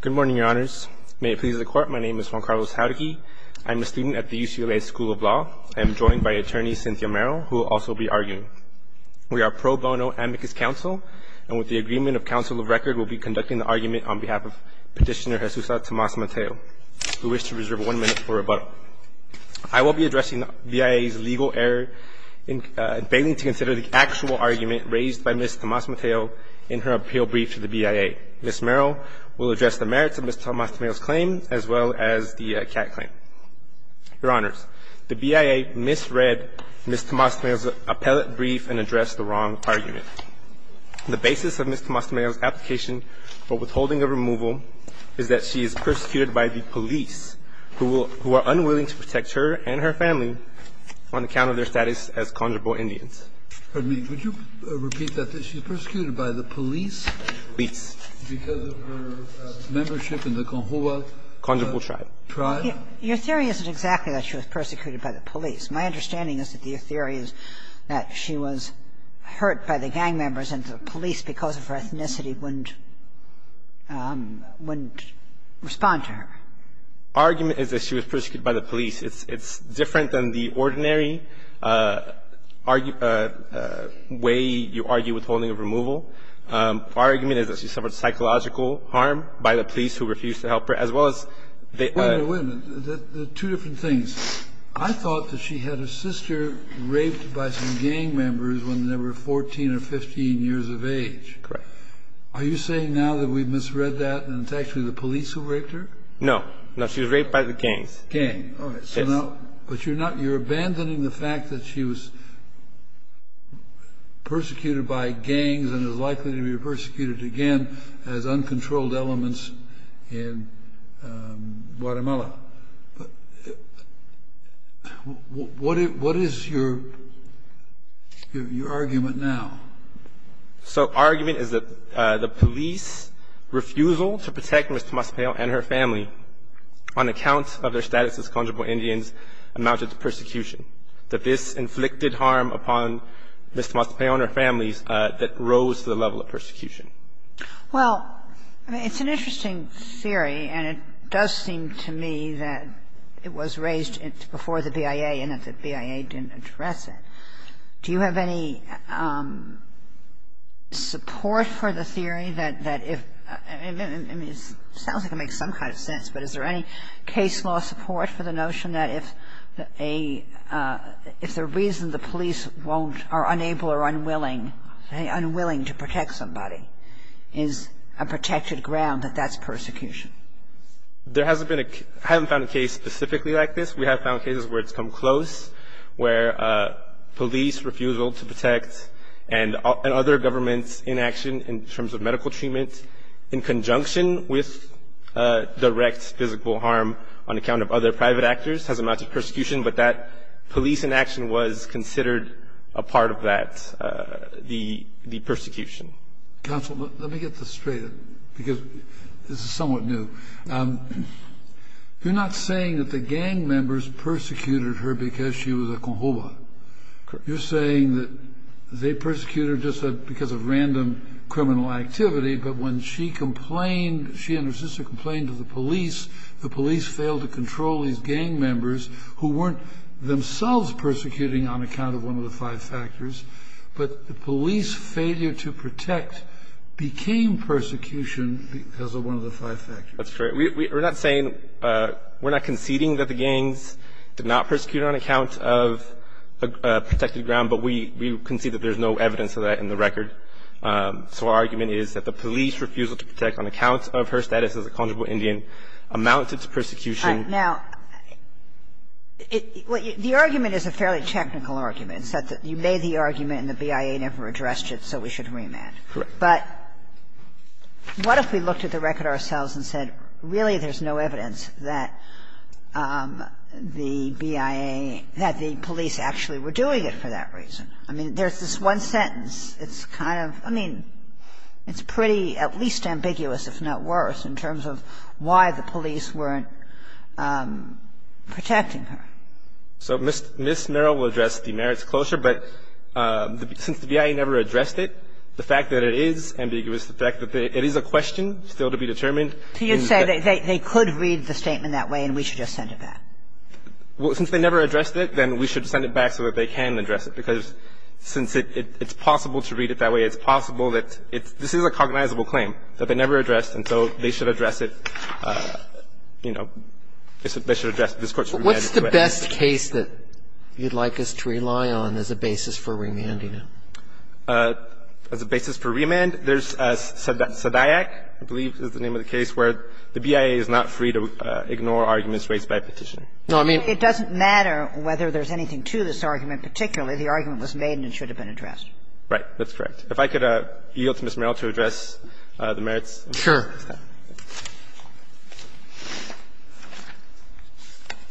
Good morning, your honors. May it please the court, my name is Juan Carlos Jauregui. I'm a student at the UCLA School of Law. I am joined by attorney Cynthia Merrill, who will also be arguing. We are pro bono amicus counsel, and with the agreement of counsel of record, we'll be conducting the argument on behalf of Petitioner Jesusa Tomas-Mateo, who wished to reserve one minute for rebuttal. I will be addressing BIA's legal error in failing to consider the actual argument raised by Ms. Tomas-Mateo in her appeal brief to the BIA. Ms. Merrill will address the merits of Ms. Tomas-Mateo's claim, as well as the CAC claim. Your honors, the BIA misread Ms. Tomas-Mateo's appellate brief and addressed the wrong argument. The basis of Ms. Tomas-Mateo's application for withholding a removal is that she is persecuted by the police, who are unwilling to protect her and her family on account of their status as conjurable Indians. Scalia. Your Honor, the BIA misread Ms. Tomas-Mateo's claim in her appeal brief to the BIA. The basis of Ms. Tomas-Mateo's claim is that she is persecuted by the police, Indians. Your Honor, the BIA misread Ms. Tomas-Mateo's claim in her appeal brief to the BIA. The basis of Ms. Tomas-Mateo's claim in her appeal brief is that she is persecuted by the police. It's different than the ordinary way you argue withholding of removal. Our argument is that she suffered psychological harm by the police who refused to help her, as well as they Wait a minute, wait a minute, there are two different things. I thought that she had her sister raped by some gang members when they were 14 or 15 years of age. Correct. Are you saying now that we misread that and it's actually the police who raped her? No. No, she was raped by the gangs. Gang. All right. So now, but you're not, you're abandoning the fact that she was persecuted by gangs and is likely to be persecuted again as uncontrolled elements in Guatemala. What is your argument now? So argument is that the police refusal to protect Ms. Tomas-Mateo and her family on account of their status as conjugal Indians amounted to persecution. That this inflicted harm upon Ms. Tomas-Mateo and her families that rose to the level of persecution. Well, it's an interesting theory and it does seem to me that it was raised before the BIA and that the BIA didn't address it. Do you have any support for the theory that if, I mean, it sounds like it makes some kind of sense, but is there any case law support for the notion that if a, if the reason the police won't, are unable or unwilling, unwilling to protect somebody is a protected ground, that that's persecution? There hasn't been a, I haven't found a case specifically like this. We have found cases where it's come close, where police refusal to protect and other governments' inaction in terms of medical treatment in conjunction with direct physical harm on account of other private actors has amounted to persecution, but that police inaction was considered a part of that, the persecution. Counsel, let me get this straight because this is somewhat new. You're not saying that the gang members persecuted her because she was a Conjoba. You're saying that they persecuted her just because of random criminal activity, but when she complained, she and her sister complained to the police, the police failed to control these gang members who weren't themselves persecuting on account of one of the five factors, but the police failure to protect became persecution as one of the five factors. That's right. We're not saying, we're not conceding that the gangs did not persecute her on account of a protected ground, but we concede that there's no evidence of that in the record. So our argument is that the police refusal to protect on account of her status as a Conjoba Indian amounted to persecution. Now, the argument is a fairly technical argument. You made the argument and the BIA never addressed it, so we should remand. Correct. But what if we looked at the record ourselves and said, really, there's no evidence that the BIA, that the police actually were doing it for that reason? I mean, there's this one sentence. It's kind of, I mean, it's pretty at least ambiguous, if not worse, in terms of why the police weren't protecting her. So Ms. Merrill will address the merits closure, but since the BIA never addressed it, the fact that it is ambiguous, the fact that it is a question still to be determined. So you're saying they could read the statement that way and we should just send it back? Well, since they never addressed it, then we should send it back so that they can address it, because since it's possible to read it that way, it's possible that it's – this is a cognizable claim that they never addressed, and so they should address it, you know, they should address it. This Court should remand it. But what's the best case that you'd like us to rely on as a basis for remanding it? As a basis for remand, there's Sadaic, I believe is the name of the case, where the BIA is not free to ignore arguments raised by a petitioner. No, I mean – But it doesn't matter whether there's anything to this argument. Particularly, the argument was made and it should have been addressed. Right. That's correct. If I could yield to Ms. Merrill to address the merits. Sure.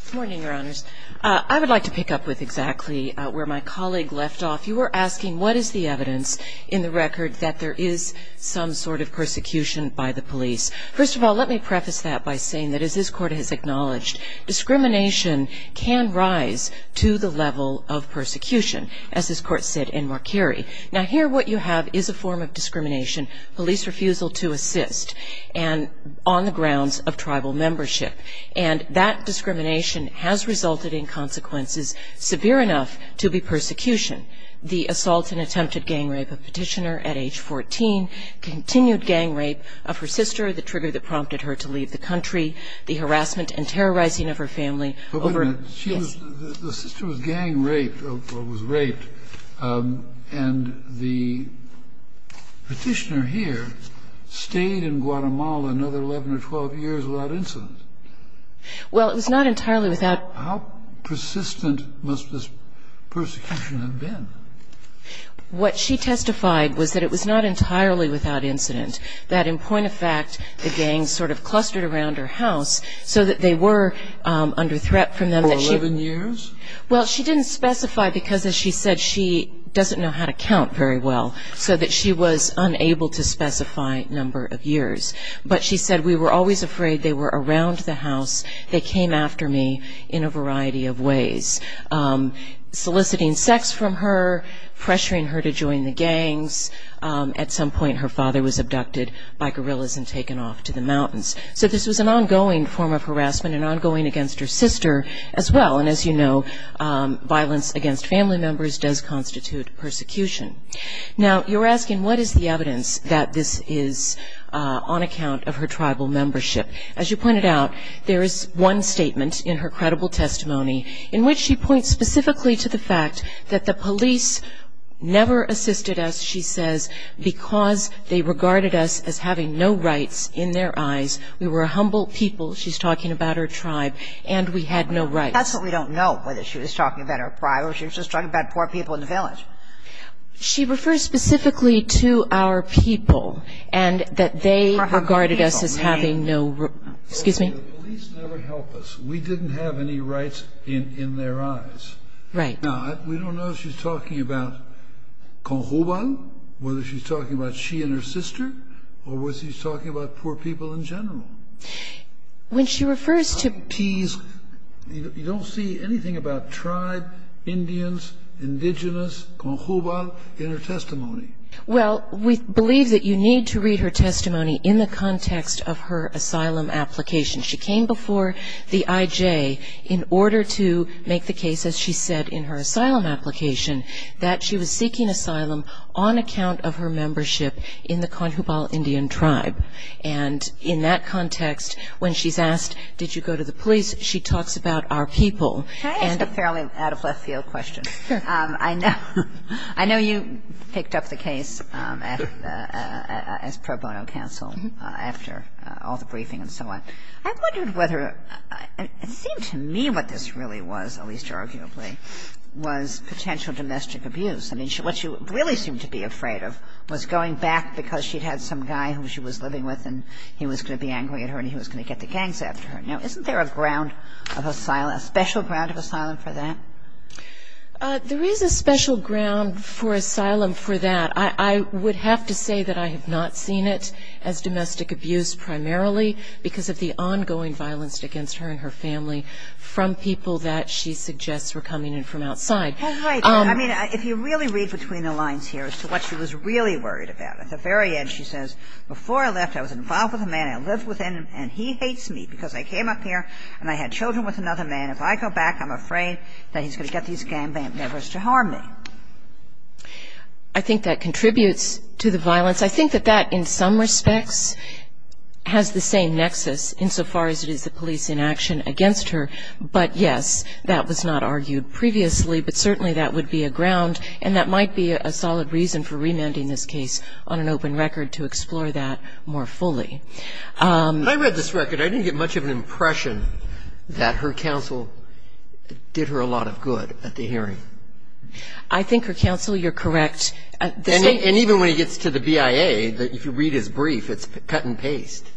Good morning, Your Honors. I would like to pick up with exactly where my colleague left off. You were asking what is the evidence in the record that there is some sort of persecution by the police. First of all, let me preface that by saying that, as this Court has acknowledged, discrimination can rise to the level of persecution, as this Court said in Marquerie. Now, here what you have is a form of discrimination, police refusal to assist and on the grounds of tribal membership. And that discrimination has resulted in consequences severe enough to be persecution. The assault and attempted gang rape of petitioner at age 14, continued gang rape of her sister, the trigger that prompted her to leave the country, the harassment and terrorizing of her family over the years. But the sister was gang raped or was raped and the petitioner here stayed in Guatemala another 11 or 12 years without incident. Well, it was not entirely without. How persistent must this persecution have been? What she testified was that it was not entirely without incident, that in point of fact, the gang sort of clustered around her house so that they were under threat from them. For 11 years? Well, she didn't specify because, as she said, she doesn't know how to count very well, so that she was unable to specify number of years. But she said, we were always afraid they were around the house. They came after me in a variety of ways, soliciting sex from her, pressuring her to join the gangs. At some point, her father was abducted by guerrillas and taken off to the mountains. So this was an ongoing form of harassment and ongoing against her sister as well. And as you know, violence against family members does constitute persecution. Now, you're asking, what is the evidence that this is on account of her tribal membership? As you pointed out, there is one statement in her credible testimony in which she says, because they regarded us as having no rights in their eyes, we were a humble people. She's talking about her tribe, and we had no rights. That's what we don't know, whether she was talking about her tribe or she was just talking about poor people in the village. She refers specifically to our people and that they regarded us as having no rights. Excuse me? The police never helped us. We didn't have any rights in their eyes. Right. Now, we don't know if she's talking about Conjugal, whether she's talking about she and her sister, or whether she's talking about poor people in general. When she refers to Peas, you don't see anything about tribe, Indians, indigenous, Conjugal in her testimony. Well, we believe that you need to read her testimony in the context of her asylum application. She came before the IJ in order to make the case, as she said in her asylum application, that she was seeking asylum on account of her membership in the Conjugal Indian tribe. And in that context, when she's asked, did you go to the police, she talks about our people. Can I ask a fairly out of left field question? Sure. I know you picked up the case as pro bono counsel after all the briefing and so on. I wondered whether, it seemed to me what this really was, at least arguably, was potential domestic abuse. I mean, what she really seemed to be afraid of was going back because she'd had some guy who she was living with and he was going to be angry at her and he was going to get the gangs after her. Now, isn't there a ground of asylum, a special ground of asylum for that? There is a special ground for asylum for that. I would have to say that I have not seen it as domestic abuse primarily because of the ongoing violence against her and her family from people that she suggests were coming in from outside. Oh, right. I mean, if you really read between the lines here as to what she was really worried about, at the very end she says, before I left, I was involved with a man, I lived with him, and he hates me because I came up here and I had children with another man. If I go back, I'm afraid that he's going to get these gang members to harm me. I think that contributes to the violence. I think that that in some respects has the same nexus insofar as it is the police in action against her, but yes, that was not argued previously, but certainly that would be a ground and that might be a solid reason for remanding this case on an open record to explore that more fully. When I read this record, I didn't get much of an impression that her counsel did her a lot of good at the hearing. I think her counsel, you're correct. And even when he gets to the BIA, if you read his brief, it's cut and paste.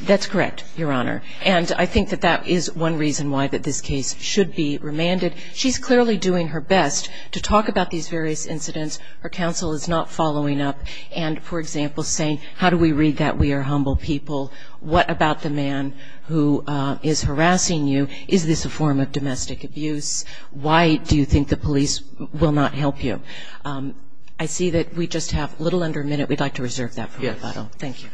That's correct, Your Honor. And I think that that is one reason why that this case should be remanded. She's clearly doing her best to talk about these various incidents. Her counsel is not following up and, for example, saying, how do we read that? We are humble people. What about the man who is harassing you? Is this a form of domestic abuse? Why do you think the police will not help you? I see that we just have a little under a minute. We'd like to reserve that for rebuttal. Thank you.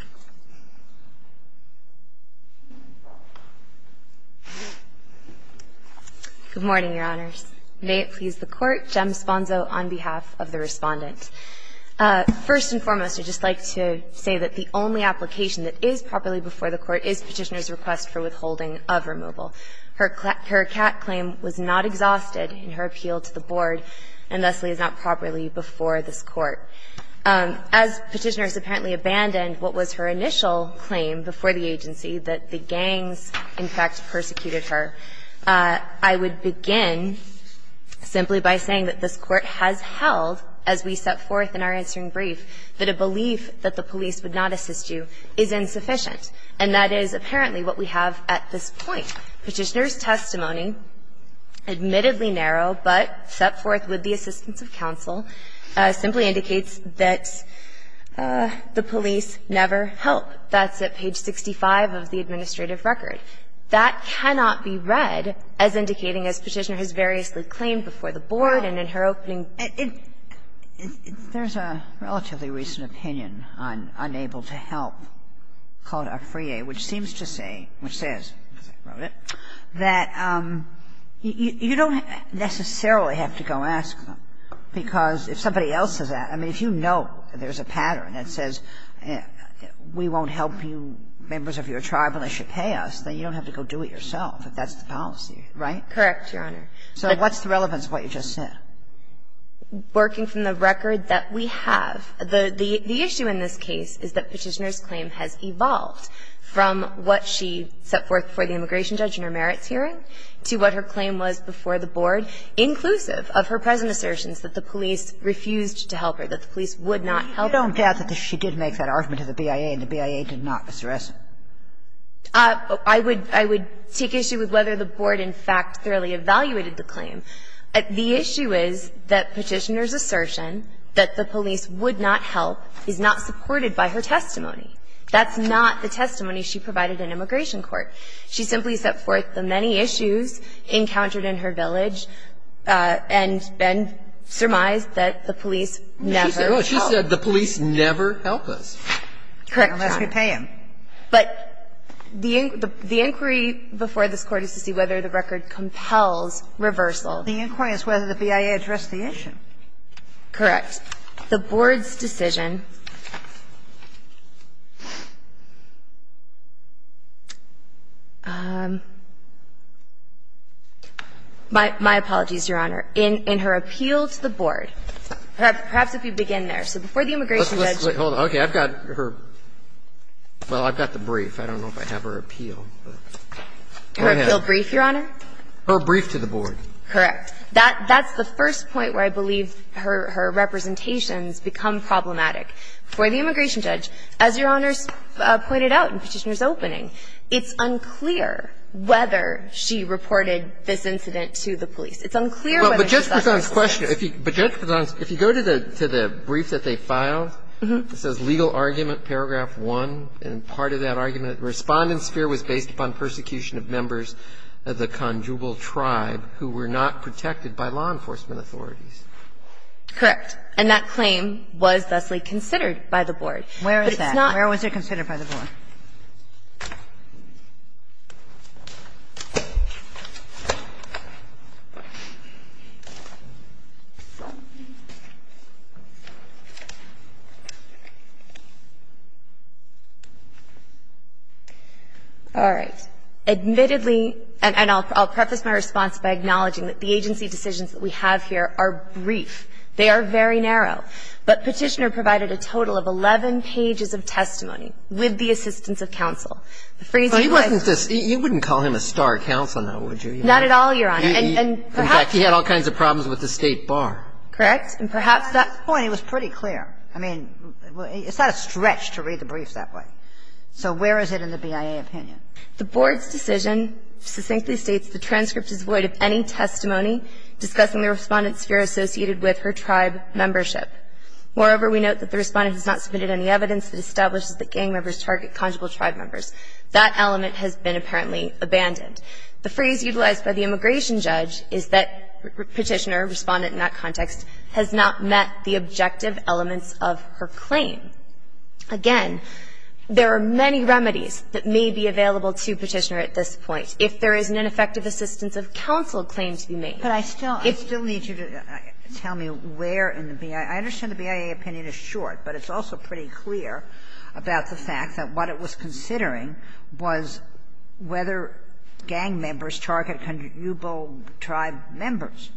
Good morning, Your Honors. May it please the Court, Jem Sponzo on behalf of the Respondent. First and foremost, I'd just like to say that the only application that is properly before the Court is Petitioner's request for withholding of removal. Her CAC claim was not exhausted in her appeal to the Board, and thusly is not properly before this Court. As Petitioner has apparently abandoned what was her initial claim before the agency, that the gangs, in fact, persecuted her, I would begin simply by saying that this Court has held, as we set forth in our answering brief, that a belief that the police would not assist you is insufficient. And that is apparently what we have at this point. Petitioner's testimony, admittedly narrow, but set forth with the assistance of counsel, simply indicates that the police never help. That's at page 65 of the administrative record. That cannot be read as indicating, as Petitioner has variously claimed before the Board and in her opening. So there's a relatively recent opinion on unable to help called Afrie, which seems to say, which says, as I wrote it, that you don't necessarily have to go ask them, because if somebody else is at it, I mean, if you know there's a pattern that says we won't help you, members of your tribe, and they should pay us, then you don't have to go do it yourself. Correct, Your Honor. So what's the relevance of what you just said? Working from the record that we have, the issue in this case is that Petitioner's claim has evolved from what she set forth before the immigration judge in her merits hearing to what her claim was before the Board, inclusive of her present assertions that the police refused to help her, that the police would not help her. You don't doubt that she did make that argument to the BIA, and the BIA did not, Mr. Esso? I would take issue with whether the Board, in fact, thoroughly evaluated the claim. The issue is that Petitioner's assertion that the police would not help is not supported by her testimony. That's not the testimony she provided in immigration court. She simply set forth the many issues encountered in her village, and then surmised that the police never helped. She said the police never help us. Correct, Your Honor. Unless we pay them. But the inquiry before this Court is to see whether the record compels reversal. The inquiry is whether the BIA addressed the issue. Correct. The Board's decision my apologies, Your Honor, in her appeal to the Board. Perhaps if you begin there. So before the immigration judge. Hold on. Okay. I've got her. Well, I've got the brief. I don't know if I have her appeal. Her appeal brief, Your Honor? Her brief to the Board. Correct. That's the first point where I believe her representations become problematic. For the immigration judge, as Your Honor pointed out in Petitioner's opening, it's unclear whether she reported this incident to the police. It's unclear whether she's actually the police. But just because I'm questioning. But, Your Honor, if you go to the brief that they filed, it says legal argument paragraph 1, and part of that argument, the Respondent's fear was based upon persecution of members of the Conjugal Tribe who were not protected by law enforcement authorities. Correct. And that claim was thusly considered by the Board. Where is that? Where was it considered by the Board? All right. Admittedly, and I'll preface my response by acknowledging that the agency decisions that we have here are brief. They are very narrow. But Petitioner provided a total of 11 pages of testimony, with the assistance of the Respondent. The Board's decision, succinctly states that the transcript is void of any testimony discussing the Respondent's fear associated with her tribe membership. Moreover, we note that the Respondent has not submitted any evidence that establishes That element has been apparently abandoned. The phrase utilized by the immigration judge is that Petitioner, Respondent in that context, has not met the objective elements of her claim. Again, there are many remedies that may be available to Petitioner at this point if there is an ineffective assistance of counsel claim to be made. But I still need you to tell me where in the BIA – I understand the BIA opinion is short, but it's also pretty clear about the fact that what it was considering was whether gang members target conneuble tribe members.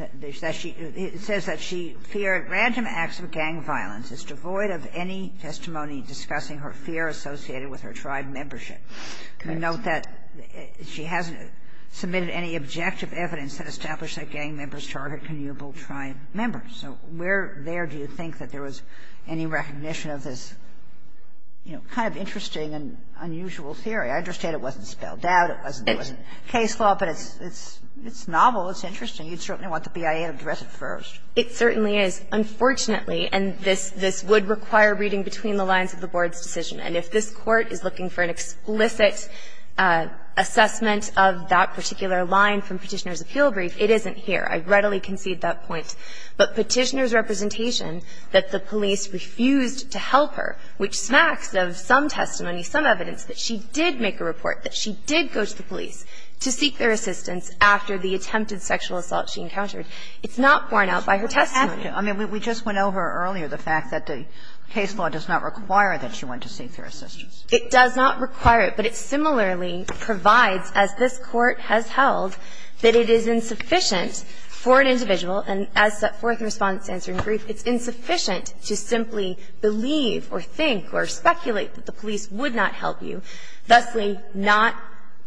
It says that she feared random acts of gang violence. It's devoid of any testimony discussing her fear associated with her tribe membership. We note that she hasn't submitted any objective evidence that established that gang members target connuable tribe members. So where there do you think that there was any recognition of this, you know, kind of interesting and unusual theory? I understand it wasn't spelled out, it wasn't case law, but it's novel, it's interesting, you'd certainly want the BIA to address it first. It certainly is. Unfortunately, and this would require reading between the lines of the Board's decision, and if this Court is looking for an explicit assessment of that particular line from Petitioner's appeal brief, it isn't here. I readily concede that point. But Petitioner's representation that the police refused to help her, which smacks of some testimony, some evidence that she did make a report, that she did go to the police to seek their assistance after the attempted sexual assault she encountered, it's not borne out by her testimony. I mean, we just went over earlier the fact that the case law does not require that she went to seek their assistance. It does not require it, but it similarly provides, as this Court has held, that it is insufficient for an individual, and as set forth in Respondent's answer in brief, it's insufficient to simply believe or think or speculate that the police would not help you, thusly not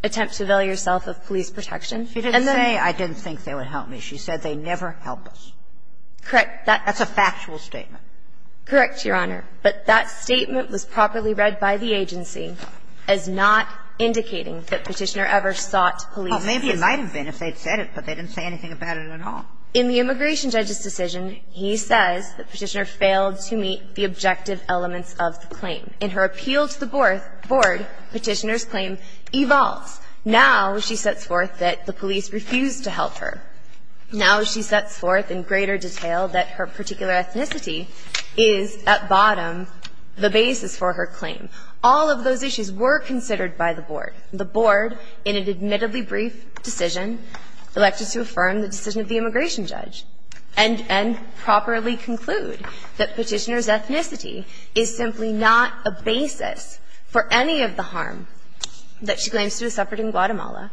attempt to avail yourself of police protection. And then they don't say, I didn't think they would help me. She said, they never help us. Correct. That's a factual statement. Correct, Your Honor. But that statement was properly read by the agency as not indicating that Petitioner ever sought police assistance. Well, maybe it might have been if they'd said it, but they didn't say anything about it at all. In the immigration judge's decision, he says that Petitioner failed to meet the objective elements of the claim. In her appeal to the board, Petitioner's claim evolves. Now she sets forth that the police refused to help her. Now she sets forth in greater detail that her particular ethnicity is, at bottom, All of those issues were considered by the board. The board, in an admittedly brief decision, elected to affirm the decision of the immigration judge and properly conclude that Petitioner's ethnicity is simply not a basis for any of the harm that she claims to have suffered in Guatemala,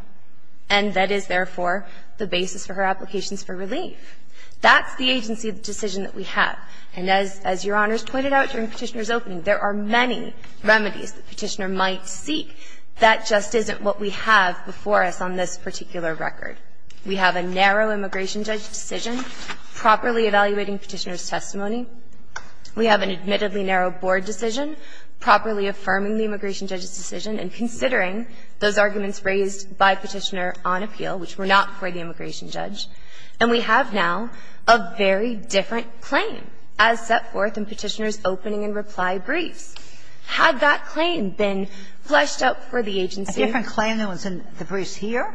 and that is, therefore, the basis for her applications for relief. That's the agency of the decision that we have. And as Your Honor has pointed out during Petitioner's opening, there are many remedies that Petitioner might seek. That just isn't what we have before us on this particular record. We have a narrow immigration judge's decision, properly evaluating Petitioner's testimony. We have an admittedly narrow board decision, properly affirming the immigration judge's decision and considering those arguments raised by Petitioner on appeal, which were not for the immigration judge. And we have now a very different claim as set forth in Petitioner's opening and reply briefs. Had that claim been fleshed out for the agency? Sotomayor, a different claim than was in the briefs here?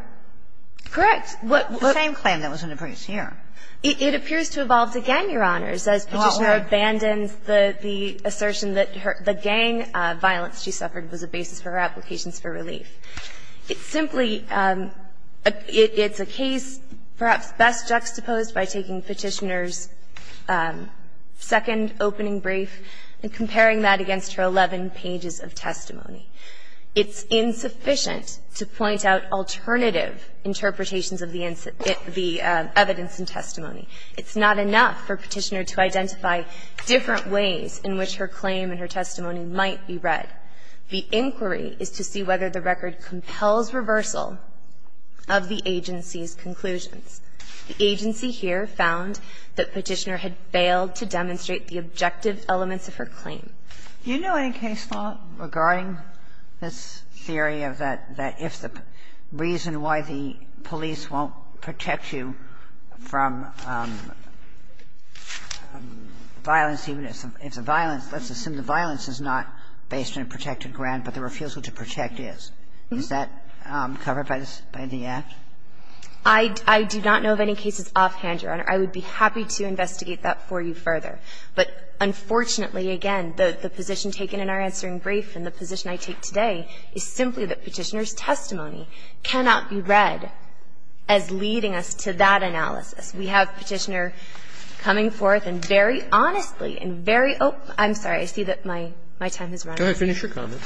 Correct. The same claim that was in the briefs here. It appears to have evolved again, Your Honor, as Petitioner abandons the assertion that the gang violence she suffered was a basis for her applications for relief. It's simply a case perhaps best juxtaposed by taking Petitioner's second opening brief and comparing that against her 11 pages of testimony. It's insufficient to point out alternative interpretations of the evidence and testimony. It's not enough for Petitioner to identify different ways in which her claim and her testimony might be read. The inquiry is to see whether the record compels reversal of the agency's conclusions. The agency here found that Petitioner had failed to demonstrate the objective elements of her claim. Do you know any case law regarding this theory of that, that if the reason why the police won't protect you from violence, even if the violence, let's assume the violence is not based on a protected grant, but the refusal to protect is? Is that covered by the Act? I do not know of any cases offhand, Your Honor. I would be happy to investigate that for you further. But unfortunately, again, the position taken in our answering brief and the position I take today is simply that Petitioner's testimony cannot be read as leading us to that analysis. We have Petitioner coming forth and very honestly and very open to her claim. I'm sorry. I see that my time has run out. Go ahead. Finish your comment.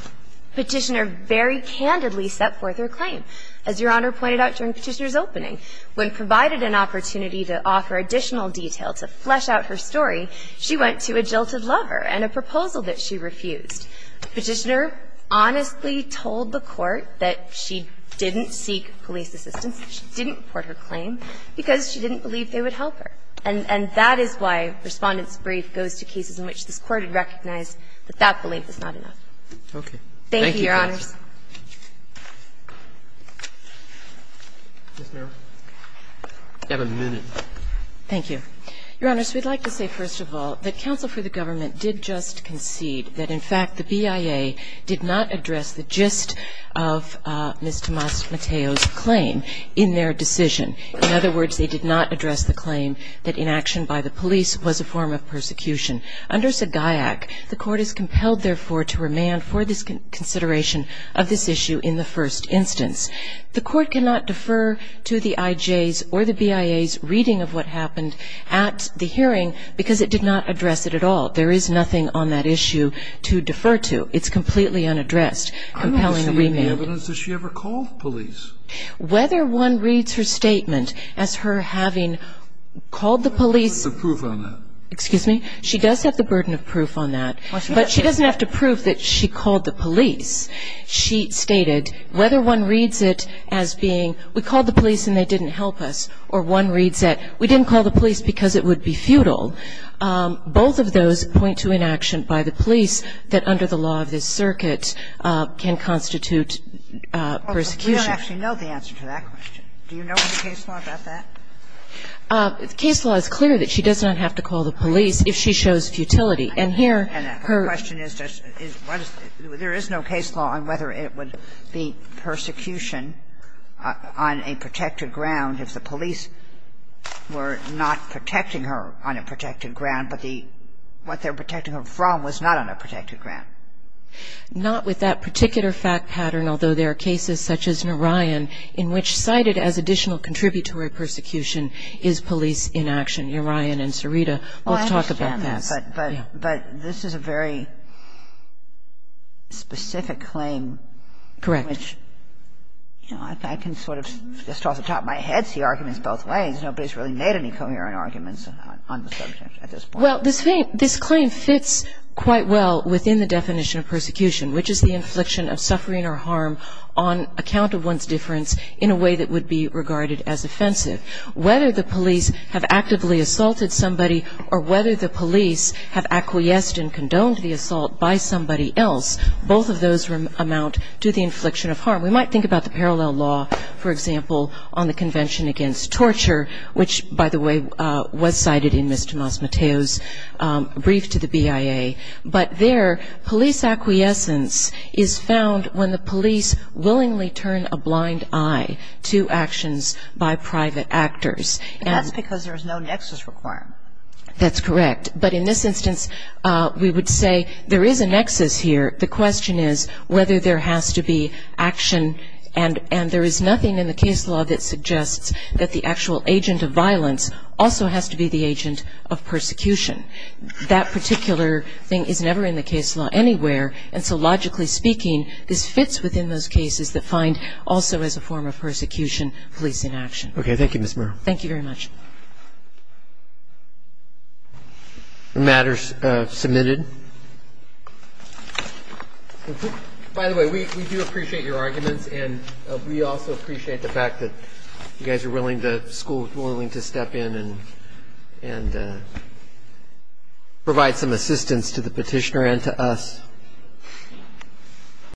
Petitioner very candidly set forth her claim. As Your Honor pointed out during Petitioner's opening, when provided an opportunity to offer additional detail to flesh out her story, she went to a jilted lover and a proposal that she refused. Petitioner honestly told the Court that she didn't seek police assistance, she didn't report her claim, because she didn't believe they would help her. And that is why Respondent's brief goes to cases in which this Court had recognized that that belief was not enough. Thank you, Your Honors. You have a minute. Thank you. Your Honors, we'd like to say, first of all, that counsel for the government did just concede that, in fact, the BIA did not address the gist of Ms. Tomas Mateo's claim in their decision. In other words, they did not address the claim that inaction by the police was a form of persecution. Under Sagaiac, the Court is compelled, therefore, to remand for this consideration of this issue in the first instance. The Court cannot defer to the IJ's or the BIA's reading of what happened at the hearing because it did not address it at all. There is nothing on that issue to defer to. It's completely unaddressed. I'm not receiving the evidence that she ever called police. Whether one reads her statement as her having called the police. She does have the burden of proof on that. But she doesn't have to prove that she called the police. She stated, whether one reads it as being, we called the police and they didn't help us, or one reads it, we didn't call the police because it would be futile, both of those point to inaction by the police that under the law of this circuit can constitute persecution. Sotomayor, we don't actually know the answer to that question. Do you know in the case law about that? Case law is clear that she does not have to call the police if she shows futility. And here, her question is just, is what is there is no case law. And whether it would be persecution on a protected ground if the police were not protecting her on a protected ground, but what they're protecting her from was not on a protected ground. Not with that particular fact pattern, although there are cases such as Narayan, in which cited as additional contributory persecution is police inaction. Narayan and Sarita both talk about that. But this is a very specific claim. Correct. I can sort of just off the top of my head see arguments both ways. Nobody's really made any coherent arguments on the subject at this point. Well, this claim fits quite well within the definition of persecution, which is the infliction of suffering or harm on account of one's difference in a way that would be regarded as offensive. Whether the police have actively assaulted somebody or whether the police have acquiesced and condoned the assault by somebody else, both of those amount to the infliction of harm. We might think about the parallel law, for example, on the Convention Against Torture, which, by the way, was cited in Ms. Tomas Mateo's brief to the BIA. But there, police acquiescence is found when the police willingly turn a blind eye to actions by private actors. And that's because there's no nexus requirement. That's correct. But in this instance, we would say there is a nexus here. The question is whether there has to be action. And there is nothing in the case law that suggests that the actual agent of violence also has to be the agent of persecution. That particular thing is never in the case law anywhere. And so logically speaking, this fits within those cases that find also as a form of persecution, police inaction. Okay. Thank you, Ms. Merrill. Thank you very much. The matter is submitted. By the way, we do appreciate your arguments, and we also appreciate the fact that you guys are willing to step in and provide some assistance to the petitioner and to us.